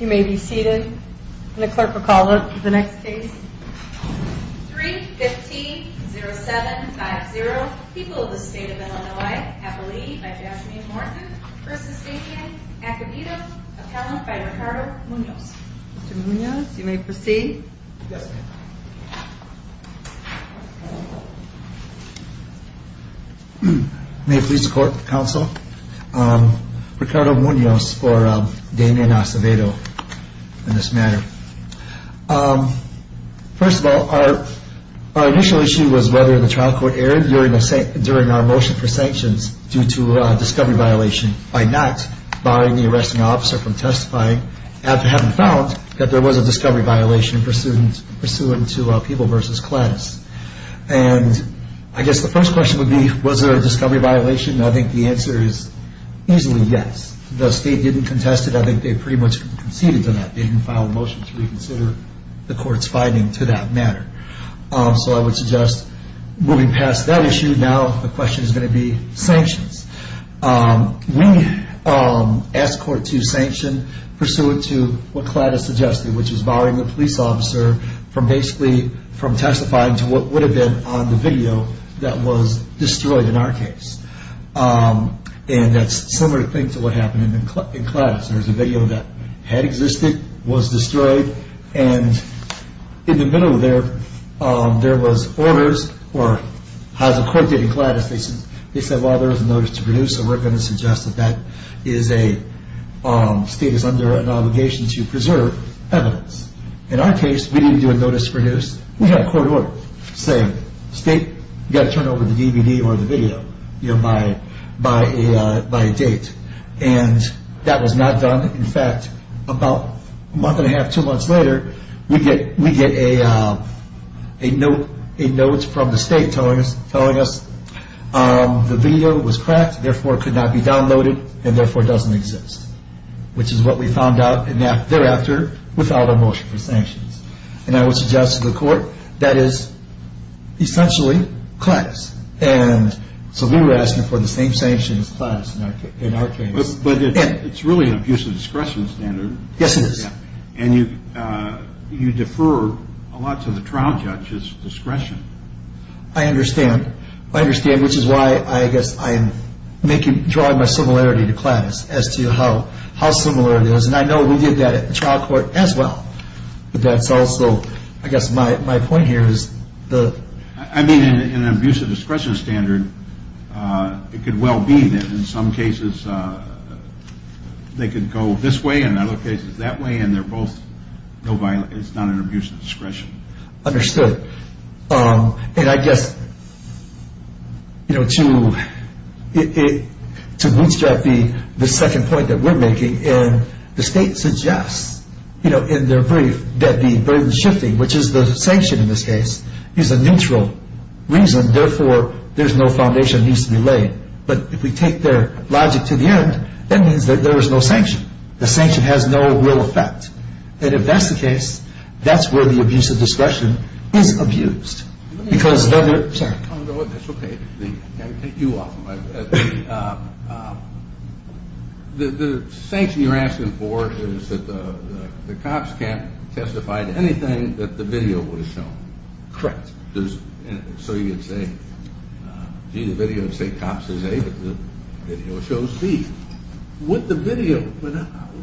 You may be seated. The clerk will call the next case. 3-15-07-50. People of the State of Illinois. Appellee by Jasmine Morton. Persistentian, Acevedo. Appellant by Ricardo Munoz. Mr. Munoz you may proceed. May it please the court and counsel. Ricardo Munoz for Damien Acevedo in this matter. First of all, our initial issue was whether the trial court erred during our motion for sanctions due to discovery violation by not barring the arresting officer from testifying after having found the evidence. We found that there was a discovery violation pursuant to People v. Cladis. I guess the first question would be was there a discovery violation? I think the answer is easily yes. The state didn't contest it. I think they pretty much conceded to that. They didn't file a motion to reconsider the court's finding to that matter. So I would suggest moving past that issue. Now the question is going to be sanctions. We asked court to sanction pursuant to what Cladis suggested, which is barring the police officer from basically from testifying to what would have been on the video that was destroyed in our case. And that's similar thing to what happened in Cladis. There's a video that had existed, was destroyed, and in the middle of there, there was orders or as the court did in Cladis, they said well there was a notice to produce and we're going to suggest that the state is under an obligation to preserve evidence. In our case, we didn't do a notice to produce. We had a court order saying state, you've got to turn over the DVD or the video by a date. And that was not done. In fact, about a month and a half, two months later, we get a note from the state telling us the video was cracked, therefore it could not be downloaded, and therefore doesn't exist. And I would suggest to the court that is essentially Cladis. And so we were asking for the same sanctions as Cladis in our case. But it's really an abuse of discretion standard. Yes, it is. And you defer a lot to the trial judge's discretion. I understand. I understand, which is why I guess I'm making, drawing my similarity to Cladis as to how similar it is. And I know we did that at the trial court as well. But that's also, I guess my point here is the... I mean, in an abuse of discretion standard, it could well be that in some cases they could go this way, and in other cases that way, and they're both, it's not an abuse of discretion. Understood. And I guess, you know, to bootstrap the second point that we're making, and the state suggests, you know, in their brief, that the burden is shifting, which is the sanction in this case, is a neutral reason. Therefore, there's no foundation that needs to be laid. But if we take their logic to the end, that means that there is no sanction. The sanction has no real effect. And if that's the case, that's where the abuse of discretion is abused. Because... Let me... Sorry. That's okay. Can I take you off of my... The sanction you're asking for is that the cops can't testify to anything that the video would have shown. Correct. So you could say, gee, the video would say cops says A, but the video shows B. Would the video...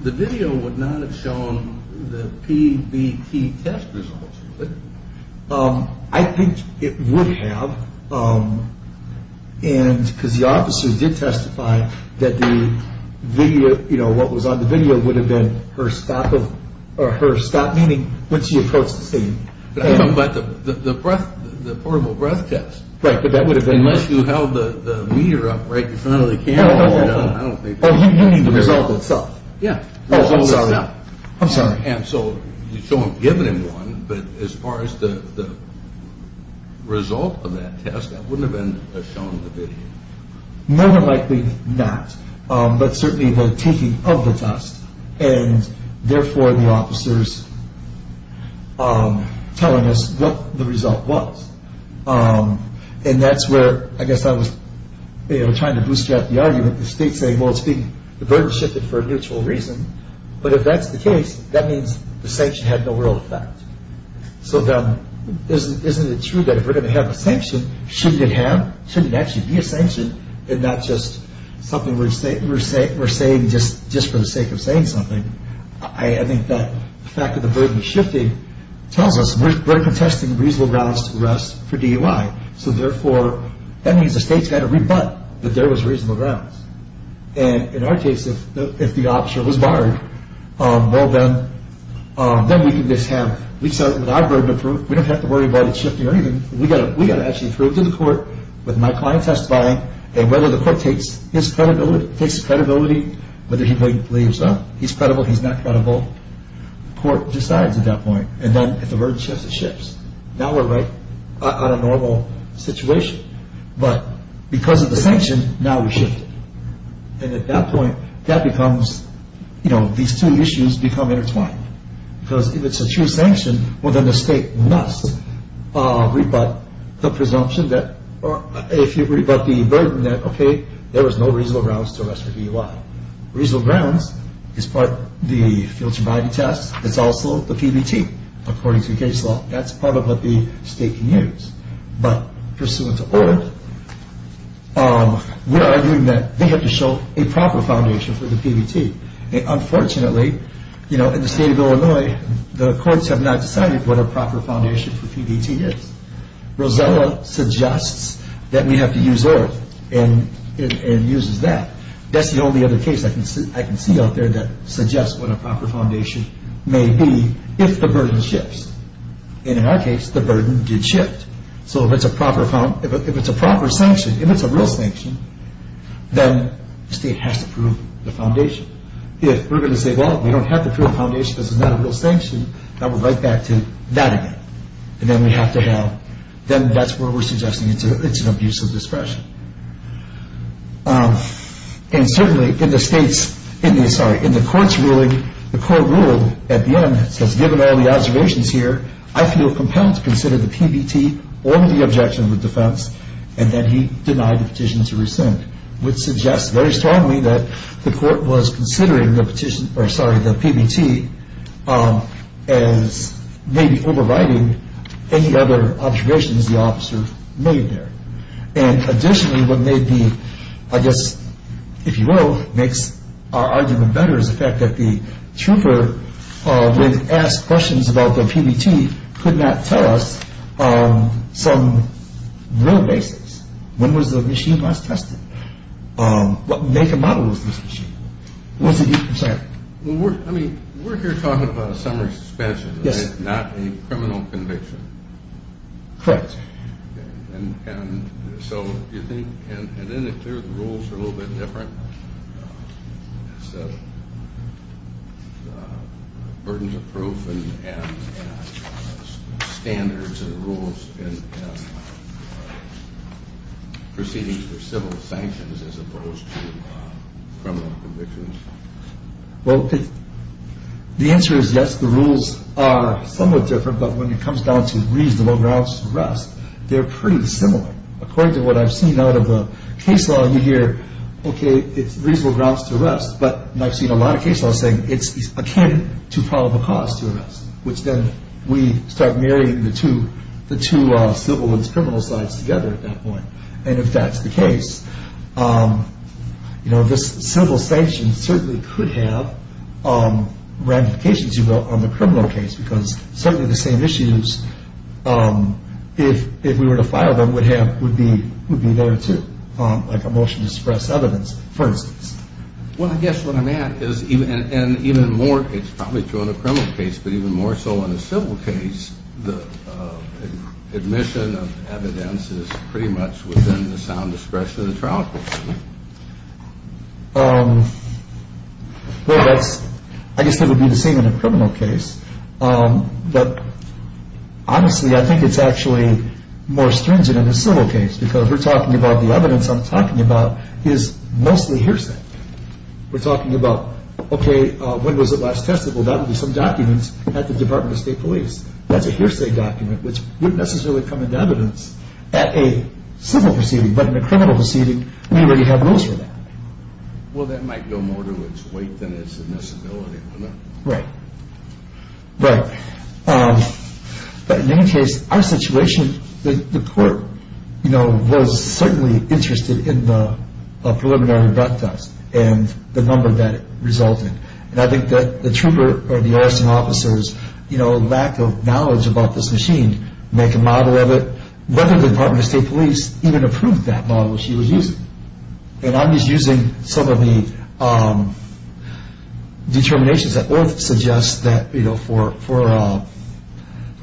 The video would not have shown the PBT test results, would it? I think it would have. And because the officer did testify that the video, you know, what was on the video would have been her stop of... Or her stop, meaning when she approached the scene. But the portable breath test. Right, but that would have been... Unless you held the meter up right in front of the camera, I don't think... Oh, you mean the result itself? Yeah. Oh, I'm sorry. I'm sorry. And so you show them giving him one, but as far as the result of that test, that wouldn't have been shown in the video. More than likely not, but certainly the taking of the test and therefore the officers telling us what the result was. And that's where I guess I was trying to bootstrap the argument. The state's saying, well, it's being burden shifted for a mutual reason. But if that's the case, that means the sanction had no real effect. So then isn't it true that if we're going to have a sanction, shouldn't it have? Shouldn't it actually be a sanction and not just something we're saying just for the sake of saying something? I think that the fact that the burden is shifting tells us we're contesting reasonable grounds to arrest for DUI. So therefore, that means the state's got to rebut that there was reasonable grounds. And in our case, if the officer was barred, well then, then we can just have, with our burden approved, we don't have to worry about it shifting or anything. We got to actually prove to the court with my client testifying and whether the court takes his credibility, whether he believes he's credible, he's not credible. Court decides at that point. And then if the burden shifts, it shifts. Now we're right on a normal situation. But because of the sanction, now we shift. And at that point, that becomes, you know, these two issues become intertwined. Because if it's a true sanction, well then the state must rebut the presumption that, or if you rebut the burden that, okay, there was no reasonable grounds to arrest for DUI. Reasonable grounds is part of the future body test. It's also the PBT, according to the case law. That's part of what the state can use. But pursuant to ORF, we're arguing that they have to show a proper foundation for the PBT. Unfortunately, you know, in the state of Illinois, the courts have not decided what a proper foundation for PBT is. Rosella suggests that we have to use ORF and uses that. That's the only other case I can see out there that suggests what a proper foundation may be if the burden shifts. And in our case, the burden did shift. So if it's a proper sanction, if it's a real sanction, then the state has to prove the foundation. If we're going to say, well, we don't have to prove the foundation because it's not a real sanction, then we're right back to that again. And then we have to have, then that's where we're suggesting it's an abuse of discretion. And certainly in the state's, sorry, in the court's ruling, the court ruled at the end, it says given all the observations here, I feel compelled to consider the PBT or the objection of the defense. And then he denied the petition to rescind, which suggests very strongly that the court was considering the petition, or sorry, the PBT as maybe overriding any other observations the officer made there. And additionally, what may be, I guess, if you will, makes our argument better is the fact that the trooper would ask questions about the PBT could not tell us some real basis. When was the machine last tested? What make and model was this machine? What's the difference there? I mean, we're here talking about a summary suspension, not a criminal conviction. Correct. And so do you think, and then the third rule's a little bit different. It's a burden of proof and standards and rules and proceedings for civil sanctions as opposed to criminal convictions. Well, the answer is yes, the rules are somewhat different, but when it comes down to reasonable grounds to arrest, they're pretty similar. According to what I've seen out of the case law, you hear, okay, it's reasonable grounds to arrest, but I've seen a lot of case laws saying it's akin to probable cause to arrest, which then we start marrying the two civil and criminal sides together at that point. And if that's the case, you know, this civil sanction certainly could have ramifications, you will, on the criminal case because certainly the same issues, if we were to file them, would be there too, like a motion to suppress evidence, for instance. Well, I guess what I'm at is, and even more, it's probably true in a criminal case, but even more so in a civil case, the admission of evidence is pretty much within the sound discretion of the trial court. Well, that's, I guess that would be the same in a criminal case, but honestly, I think it's actually more stringent in a civil case because we're talking about the evidence I'm talking about is mostly hearsay. We're talking about, okay, when was it last tested? Well, that would be some documents at the Department of State Police. That's a hearsay document, which wouldn't necessarily come into evidence at a civil proceeding, but in a criminal proceeding, we already have rules for that. Well, that might go more to its weight than its admissibility, wouldn't it? Right. Right. But in any case, our situation, the court, you know, was certainly interested in the preliminary broadcast and the number that it resulted. And I think that the trooper or the arson officers, you know, lack of knowledge about this machine, make a model of it, whether the Department of State Police even approved that model she was using. And I'm just using some of the determinations that ORF suggests that, you know, for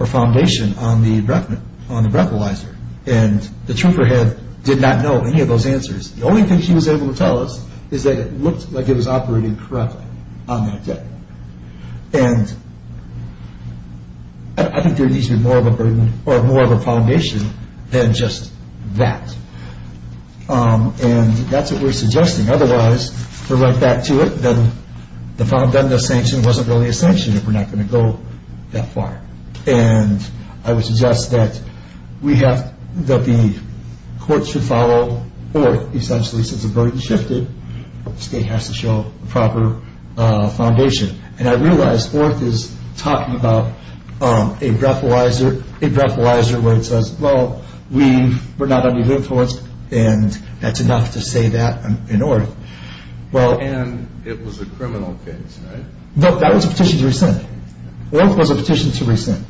foundation on the breathalyzer, and the trooper did not know any of those answers. The only thing she was able to tell us is that it looked like it was operating correctly on that day. And I think there needs to be more of a burden or more of a foundation than just that. And that's what we're suggesting. Otherwise, we're right back to it. Then the foundation of sanction wasn't really a sanction if we're not going to go that far. And I would suggest that we have, that the court should follow ORF, essentially, since the burden shifted. The state has to show a proper foundation. And I realize ORF is talking about a breathalyzer where it says, well, we were not under the influence, and that's enough to say that in ORF. And it was a criminal case, right? No, that was a petition to rescind. ORF was a petition to rescind.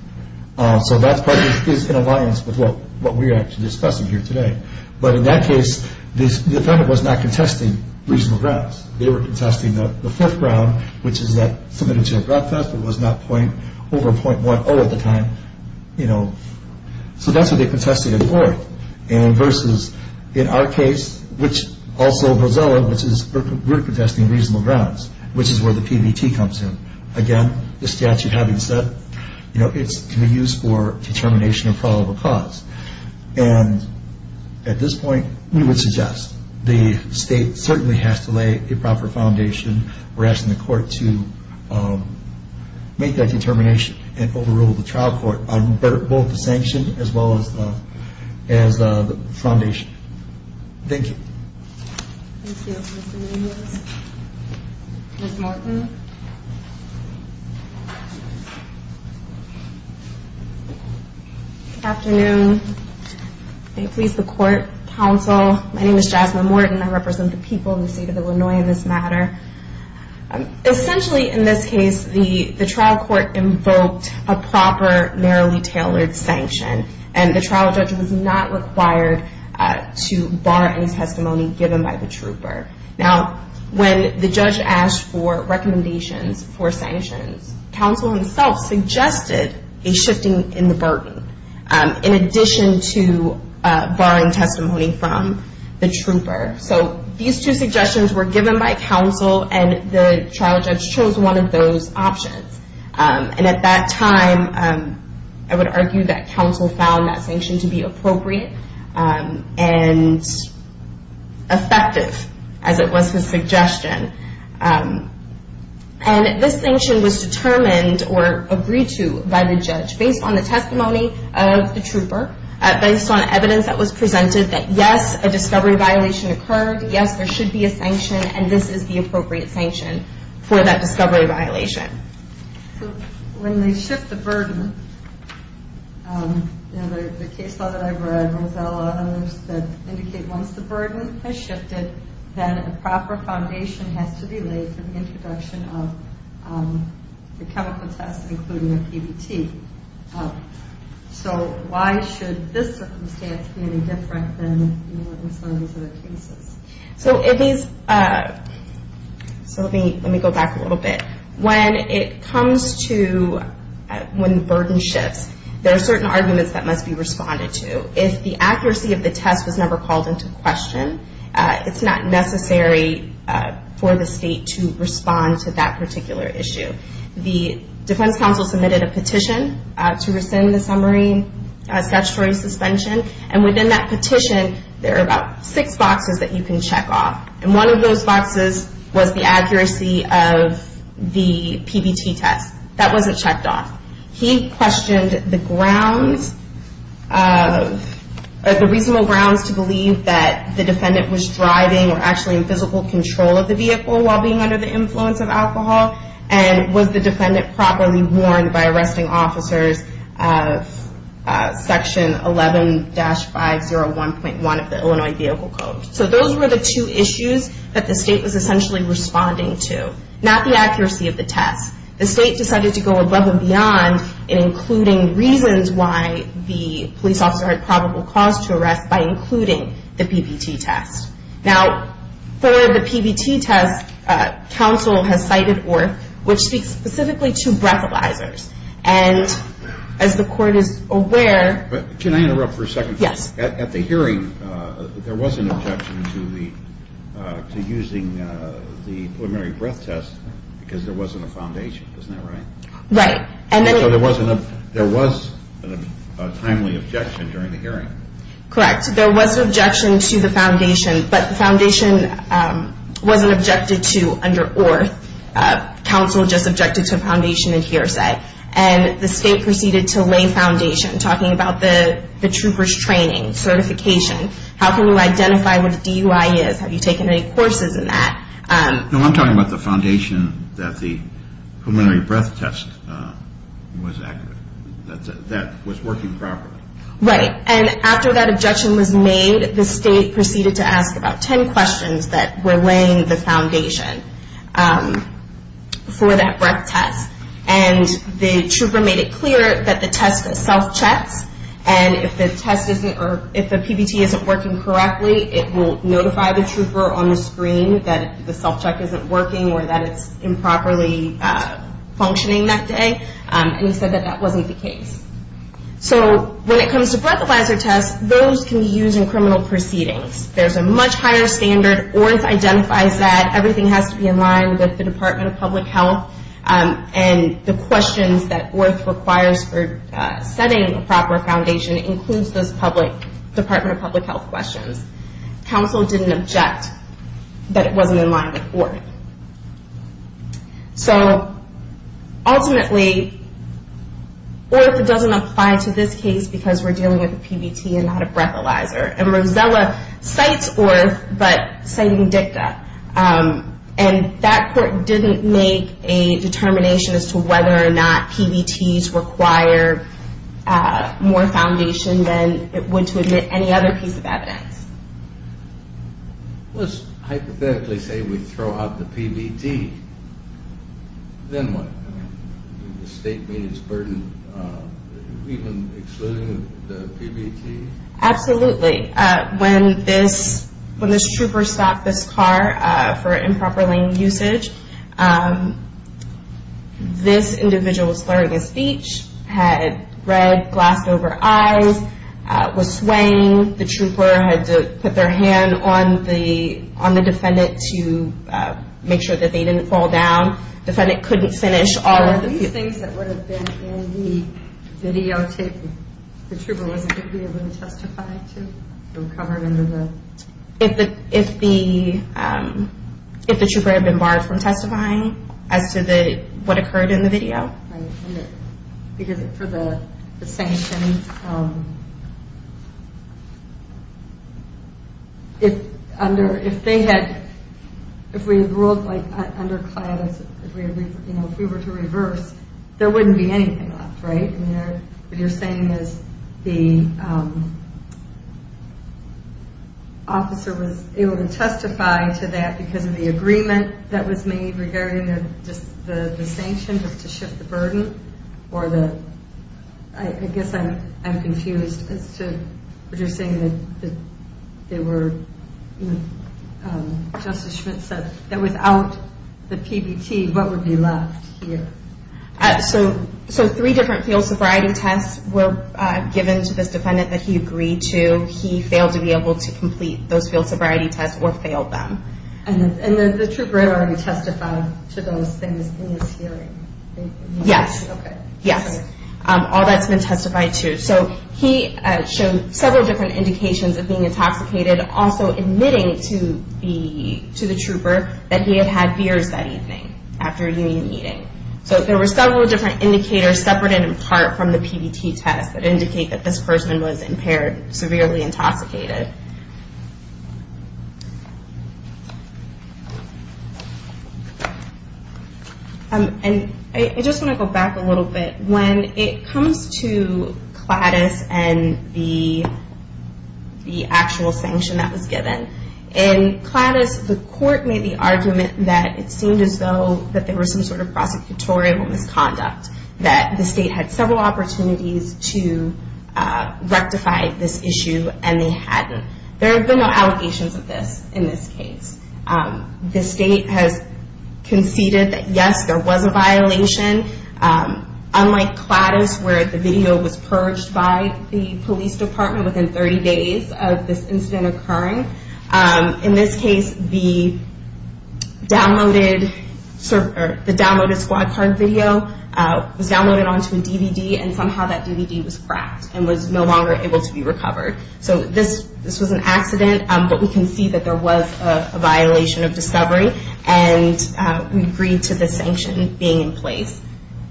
So that part is in alliance with what we're actually discussing here today. But in that case, the defendant was not contesting reasonable grounds. They were contesting the fourth ground, which is that submitted to a drug theft but was not over .10 at the time, you know. So that's what they're contesting in ORF. And versus in our case, which also goes over, which is we're contesting reasonable grounds, which is where the PBT comes in. Again, the statute having said, you know, it can be used for determination of probable cause. And at this point, we would suggest the state certainly has to lay a proper foundation. We're asking the court to make that determination and overrule the trial court on both the sanction as well as the foundation. Thank you. Thank you, Mr. Nunez. Ms. Martin. Good afternoon. May it please the court, counsel. My name is Jasmine Morton. I represent the people of the state of Illinois in this matter. Essentially in this case, the trial court invoked a proper narrowly tailored sanction. And the trial judge was not required to bar any testimony given by the trooper. Now, when the judge asked for recommendations for sanctions, counsel himself suggested a shifting in the burden in addition to barring testimony from the trooper. So these two suggestions were given by counsel, and the trial judge chose one of those options. And at that time, I would argue that counsel found that sanction to be appropriate and effective, as it was his suggestion. And this sanction was determined or agreed to by the judge based on the testimony of the trooper, based on evidence that was presented that, yes, a discovery violation occurred, yes, there should be a sanction, and this is the appropriate sanction for that discovery violation. So when they shift the burden, the case law that I've read runs out a lot of numbers that indicate once the burden has shifted, then a proper foundation has to be laid for the introduction of the chemical test, including the PBT. So why should this circumstance be any different than some of these other cases? So let me go back a little bit. When it comes to when the burden shifts, there are certain arguments that must be responded to. If the accuracy of the test was never called into question, it's not necessary for the state to respond to that particular issue. The defense counsel submitted a petition to rescind the summary statutory suspension, and within that petition there are about six boxes that you can check off, and one of those boxes was the accuracy of the PBT test. That wasn't checked off. He questioned the grounds, the reasonable grounds to believe that the defendant was driving or actually in physical control of the vehicle while being under the influence of alcohol, and was the defendant properly warned by arresting officers of section 11-501.1 of the Illinois Vehicle Code. So those were the two issues that the state was essentially responding to, not the accuracy of the test. The state decided to go above and beyond in including reasons why the police officer had probable cause to arrest by including the PBT test. Now, for the PBT test, counsel has cited ORF, which speaks specifically to breathalyzers, and as the court is aware. Can I interrupt for a second? Yes. At the hearing, there was an objection to using the preliminary breath test because there wasn't a foundation. Isn't that right? So there was a timely objection during the hearing. Correct. There was an objection to the foundation, but the foundation wasn't objected to under ORF. Counsel just objected to a foundation in hearsay. And the state proceeded to lay foundation, talking about the trooper's training, certification. How can we identify what a DUI is? Have you taken any courses in that? No, I'm talking about the foundation that the preliminary breath test was accurate, that was working properly. Right. And after that objection was made, the state proceeded to ask about 10 questions that were laying the foundation for that breath test. And the trooper made it clear that the test self-checks, and if the PBT isn't working correctly, it will notify the trooper on the screen that the self-check isn't working or that it's improperly functioning that day. And he said that that wasn't the case. So when it comes to breathalyzer tests, those can be used in criminal proceedings. There's a much higher standard. ORF identifies that everything has to be in line with the Department of Public Health. And the questions that ORF requires for setting a proper foundation includes those Department of Public Health questions. Counsel didn't object that it wasn't in line with ORF. So ultimately, ORF doesn't apply to this case because we're dealing with a PBT and not a breathalyzer. And Rosella cites ORF, but citing DICTA. And that court didn't make a determination as to whether or not PBTs require more foundation than it would to admit any other piece of evidence. Let's hypothetically say we throw out the PBT. Then what? The state means burden even excluding the PBT? Absolutely. When this trooper stopped this car for improper lane usage, this individual was slurring a speech, had red glass over eyes, was swaying. The trooper had to put their hand on the defendant to make sure that they didn't fall down. Defendant couldn't finish all of the... So these things that would have been in the videotape, the trooper wasn't going to be able to testify to? If the trooper had been barred from testifying as to what occurred in the video? Because for the sanctions, if we were to reverse, there wouldn't be anything left, right? What you're saying is the officer was able to testify to that because of the agreement that was made regarding the sanctions to shift the burden? I guess I'm confused as to what you're saying. Justice Schmitt said that without the PBT, what would be left here? So three different field sobriety tests were given to this defendant that he agreed to. He failed to be able to complete those field sobriety tests or failed them. And the trooper had already testified to those things in his hearing? Yes. Okay. Yes. All that's been testified to. So he showed several different indications of being intoxicated, also admitting to the trooper that he had had beers that evening after a union meeting. So there were several different indicators separate and in part from the PBT test that indicate that this person was impaired, severely intoxicated. And I just want to go back a little bit. When it comes to CLADIS and the actual sanction that was given, in CLADIS the court made the argument that it seemed as though there was some sort of prosecutorial misconduct, that the state had several opportunities to rectify this issue and they hadn't. There have been no allegations of this in this case. The state has conceded that yes, there was a violation. Unlike CLADIS where the video was purged by the police department within 30 days of this incident occurring, in this case the downloaded squad card video was downloaded onto a DVD and somehow that DVD was cracked and was no longer able to be recovered. So this was an accident, but we can see that there was a violation of discovery and we agree to the sanction being in place.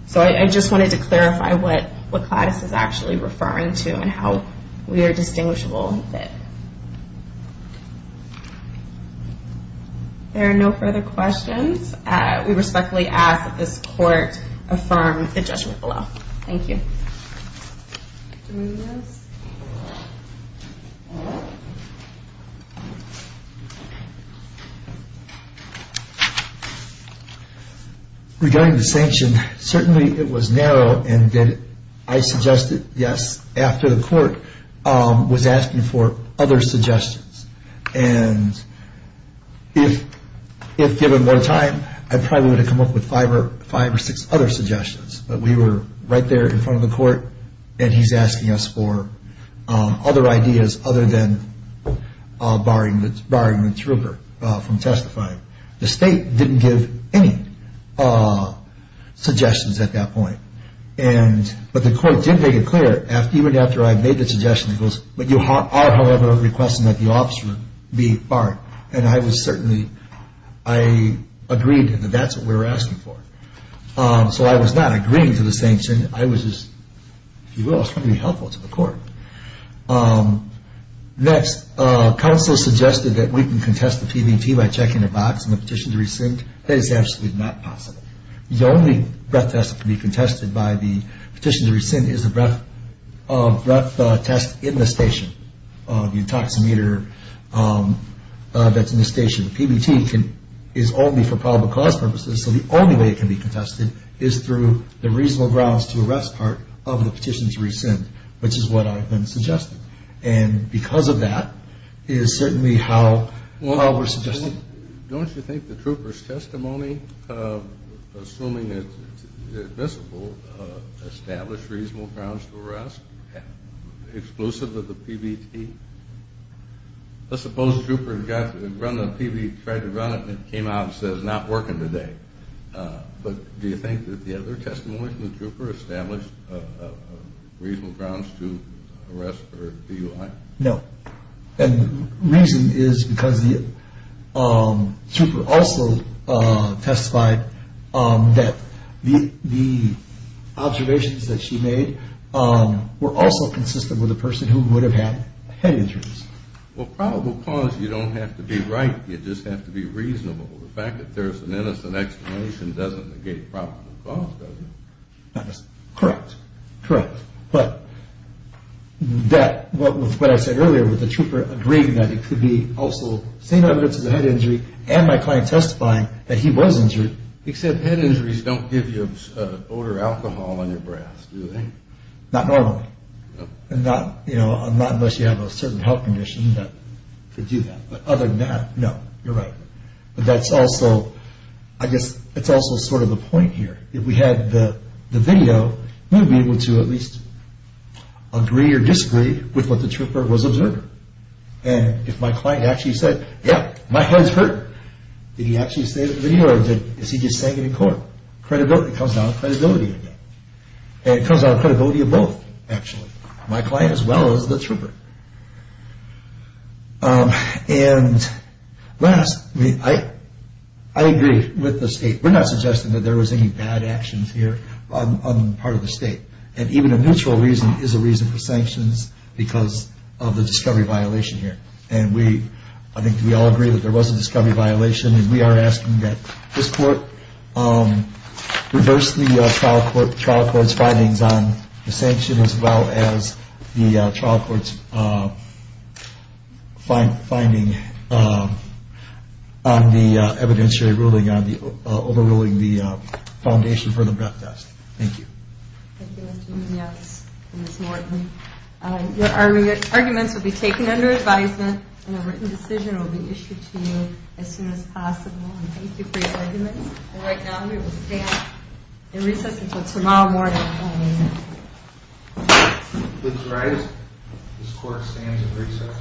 So I just wanted to clarify what CLADIS is actually referring to and how we are distinguishable of it. There are no further questions. We respectfully ask that this court affirm the judgment below. Thank you. Regarding the sanction, certainly it was narrow and did I suggest it? Yes. After the court was asking for other suggestions and if given more time, I probably would have come up with five or six other suggestions. But we were right there in front of the court and he's asking us for other ideas other than barring the trooper from testifying. The state didn't give any suggestions at that point. But the court did make it clear, even after I made the suggestion, it goes, but you are however requesting that the officer be barred. And I was certainly, I agreed that that's what we were asking for. So I was not agreeing to the sanction. I was just, if you will, I was trying to be helpful to the court. Next, counsel suggested that we can contest the PBT by checking a box in the petition to rescind. That is absolutely not possible. The only breath test that can be contested by the petition to rescind is a breath test in the station, the intoximeter that's in the station. PBT is only for public cause purposes, so the only way it can be contested is through the reasonable grounds to arrest part of the petition to rescind, which is what I've been suggesting. And because of that is certainly how we're suggesting. Don't you think the trooper's testimony, assuming it's admissible, established reasonable grounds to arrest exclusive of the PBT? Let's suppose the trooper tried to run it and it came out and says not working today. But do you think that the other testimony from the trooper established reasonable grounds to arrest for DUI? No. And the reason is because the trooper also testified that the observations that she made were also consistent with a person who would have had head injuries. Well, probable cause, you don't have to be right, you just have to be reasonable. The fact that there's an innocent explanation doesn't negate probable cause, does it? Correct, correct. But what I said earlier, with the trooper agreeing that it could be also the same evidence as a head injury, and my client testifying that he was injured. Except head injuries don't give you odor alcohol on your breath, do they? Not normally. And not unless you have a certain health condition to do that. But other than that, no, you're right. But that's also, I guess, that's also sort of the point here. If we had the video, we would be able to at least agree or disagree with what the trooper was observing. And if my client actually said, yeah, my head's hurting, did he actually say it in the video or is he just saying it in court? It comes down to credibility. And it comes down to credibility of both, actually. My client as well as the trooper. And last, I agree with the state. We're not suggesting that there was any bad actions here on the part of the state. And even a mutual reason is a reason for sanctions because of the discovery violation here. And I think we all agree that there was a discovery violation, and we are asking that this court reverse the trial court's findings on the sanction as well as the trial court's finding on the evidentiary ruling on overruling the foundation for the breath test. Thank you. Thank you, Mr. Munoz and Ms. Morton. Your arguments will be taken under advisement, and a written decision will be issued to you as soon as possible. And thank you for your arguments. And right now, I'm going to stand and recess until tomorrow morning. Looks right. This court stands at recess.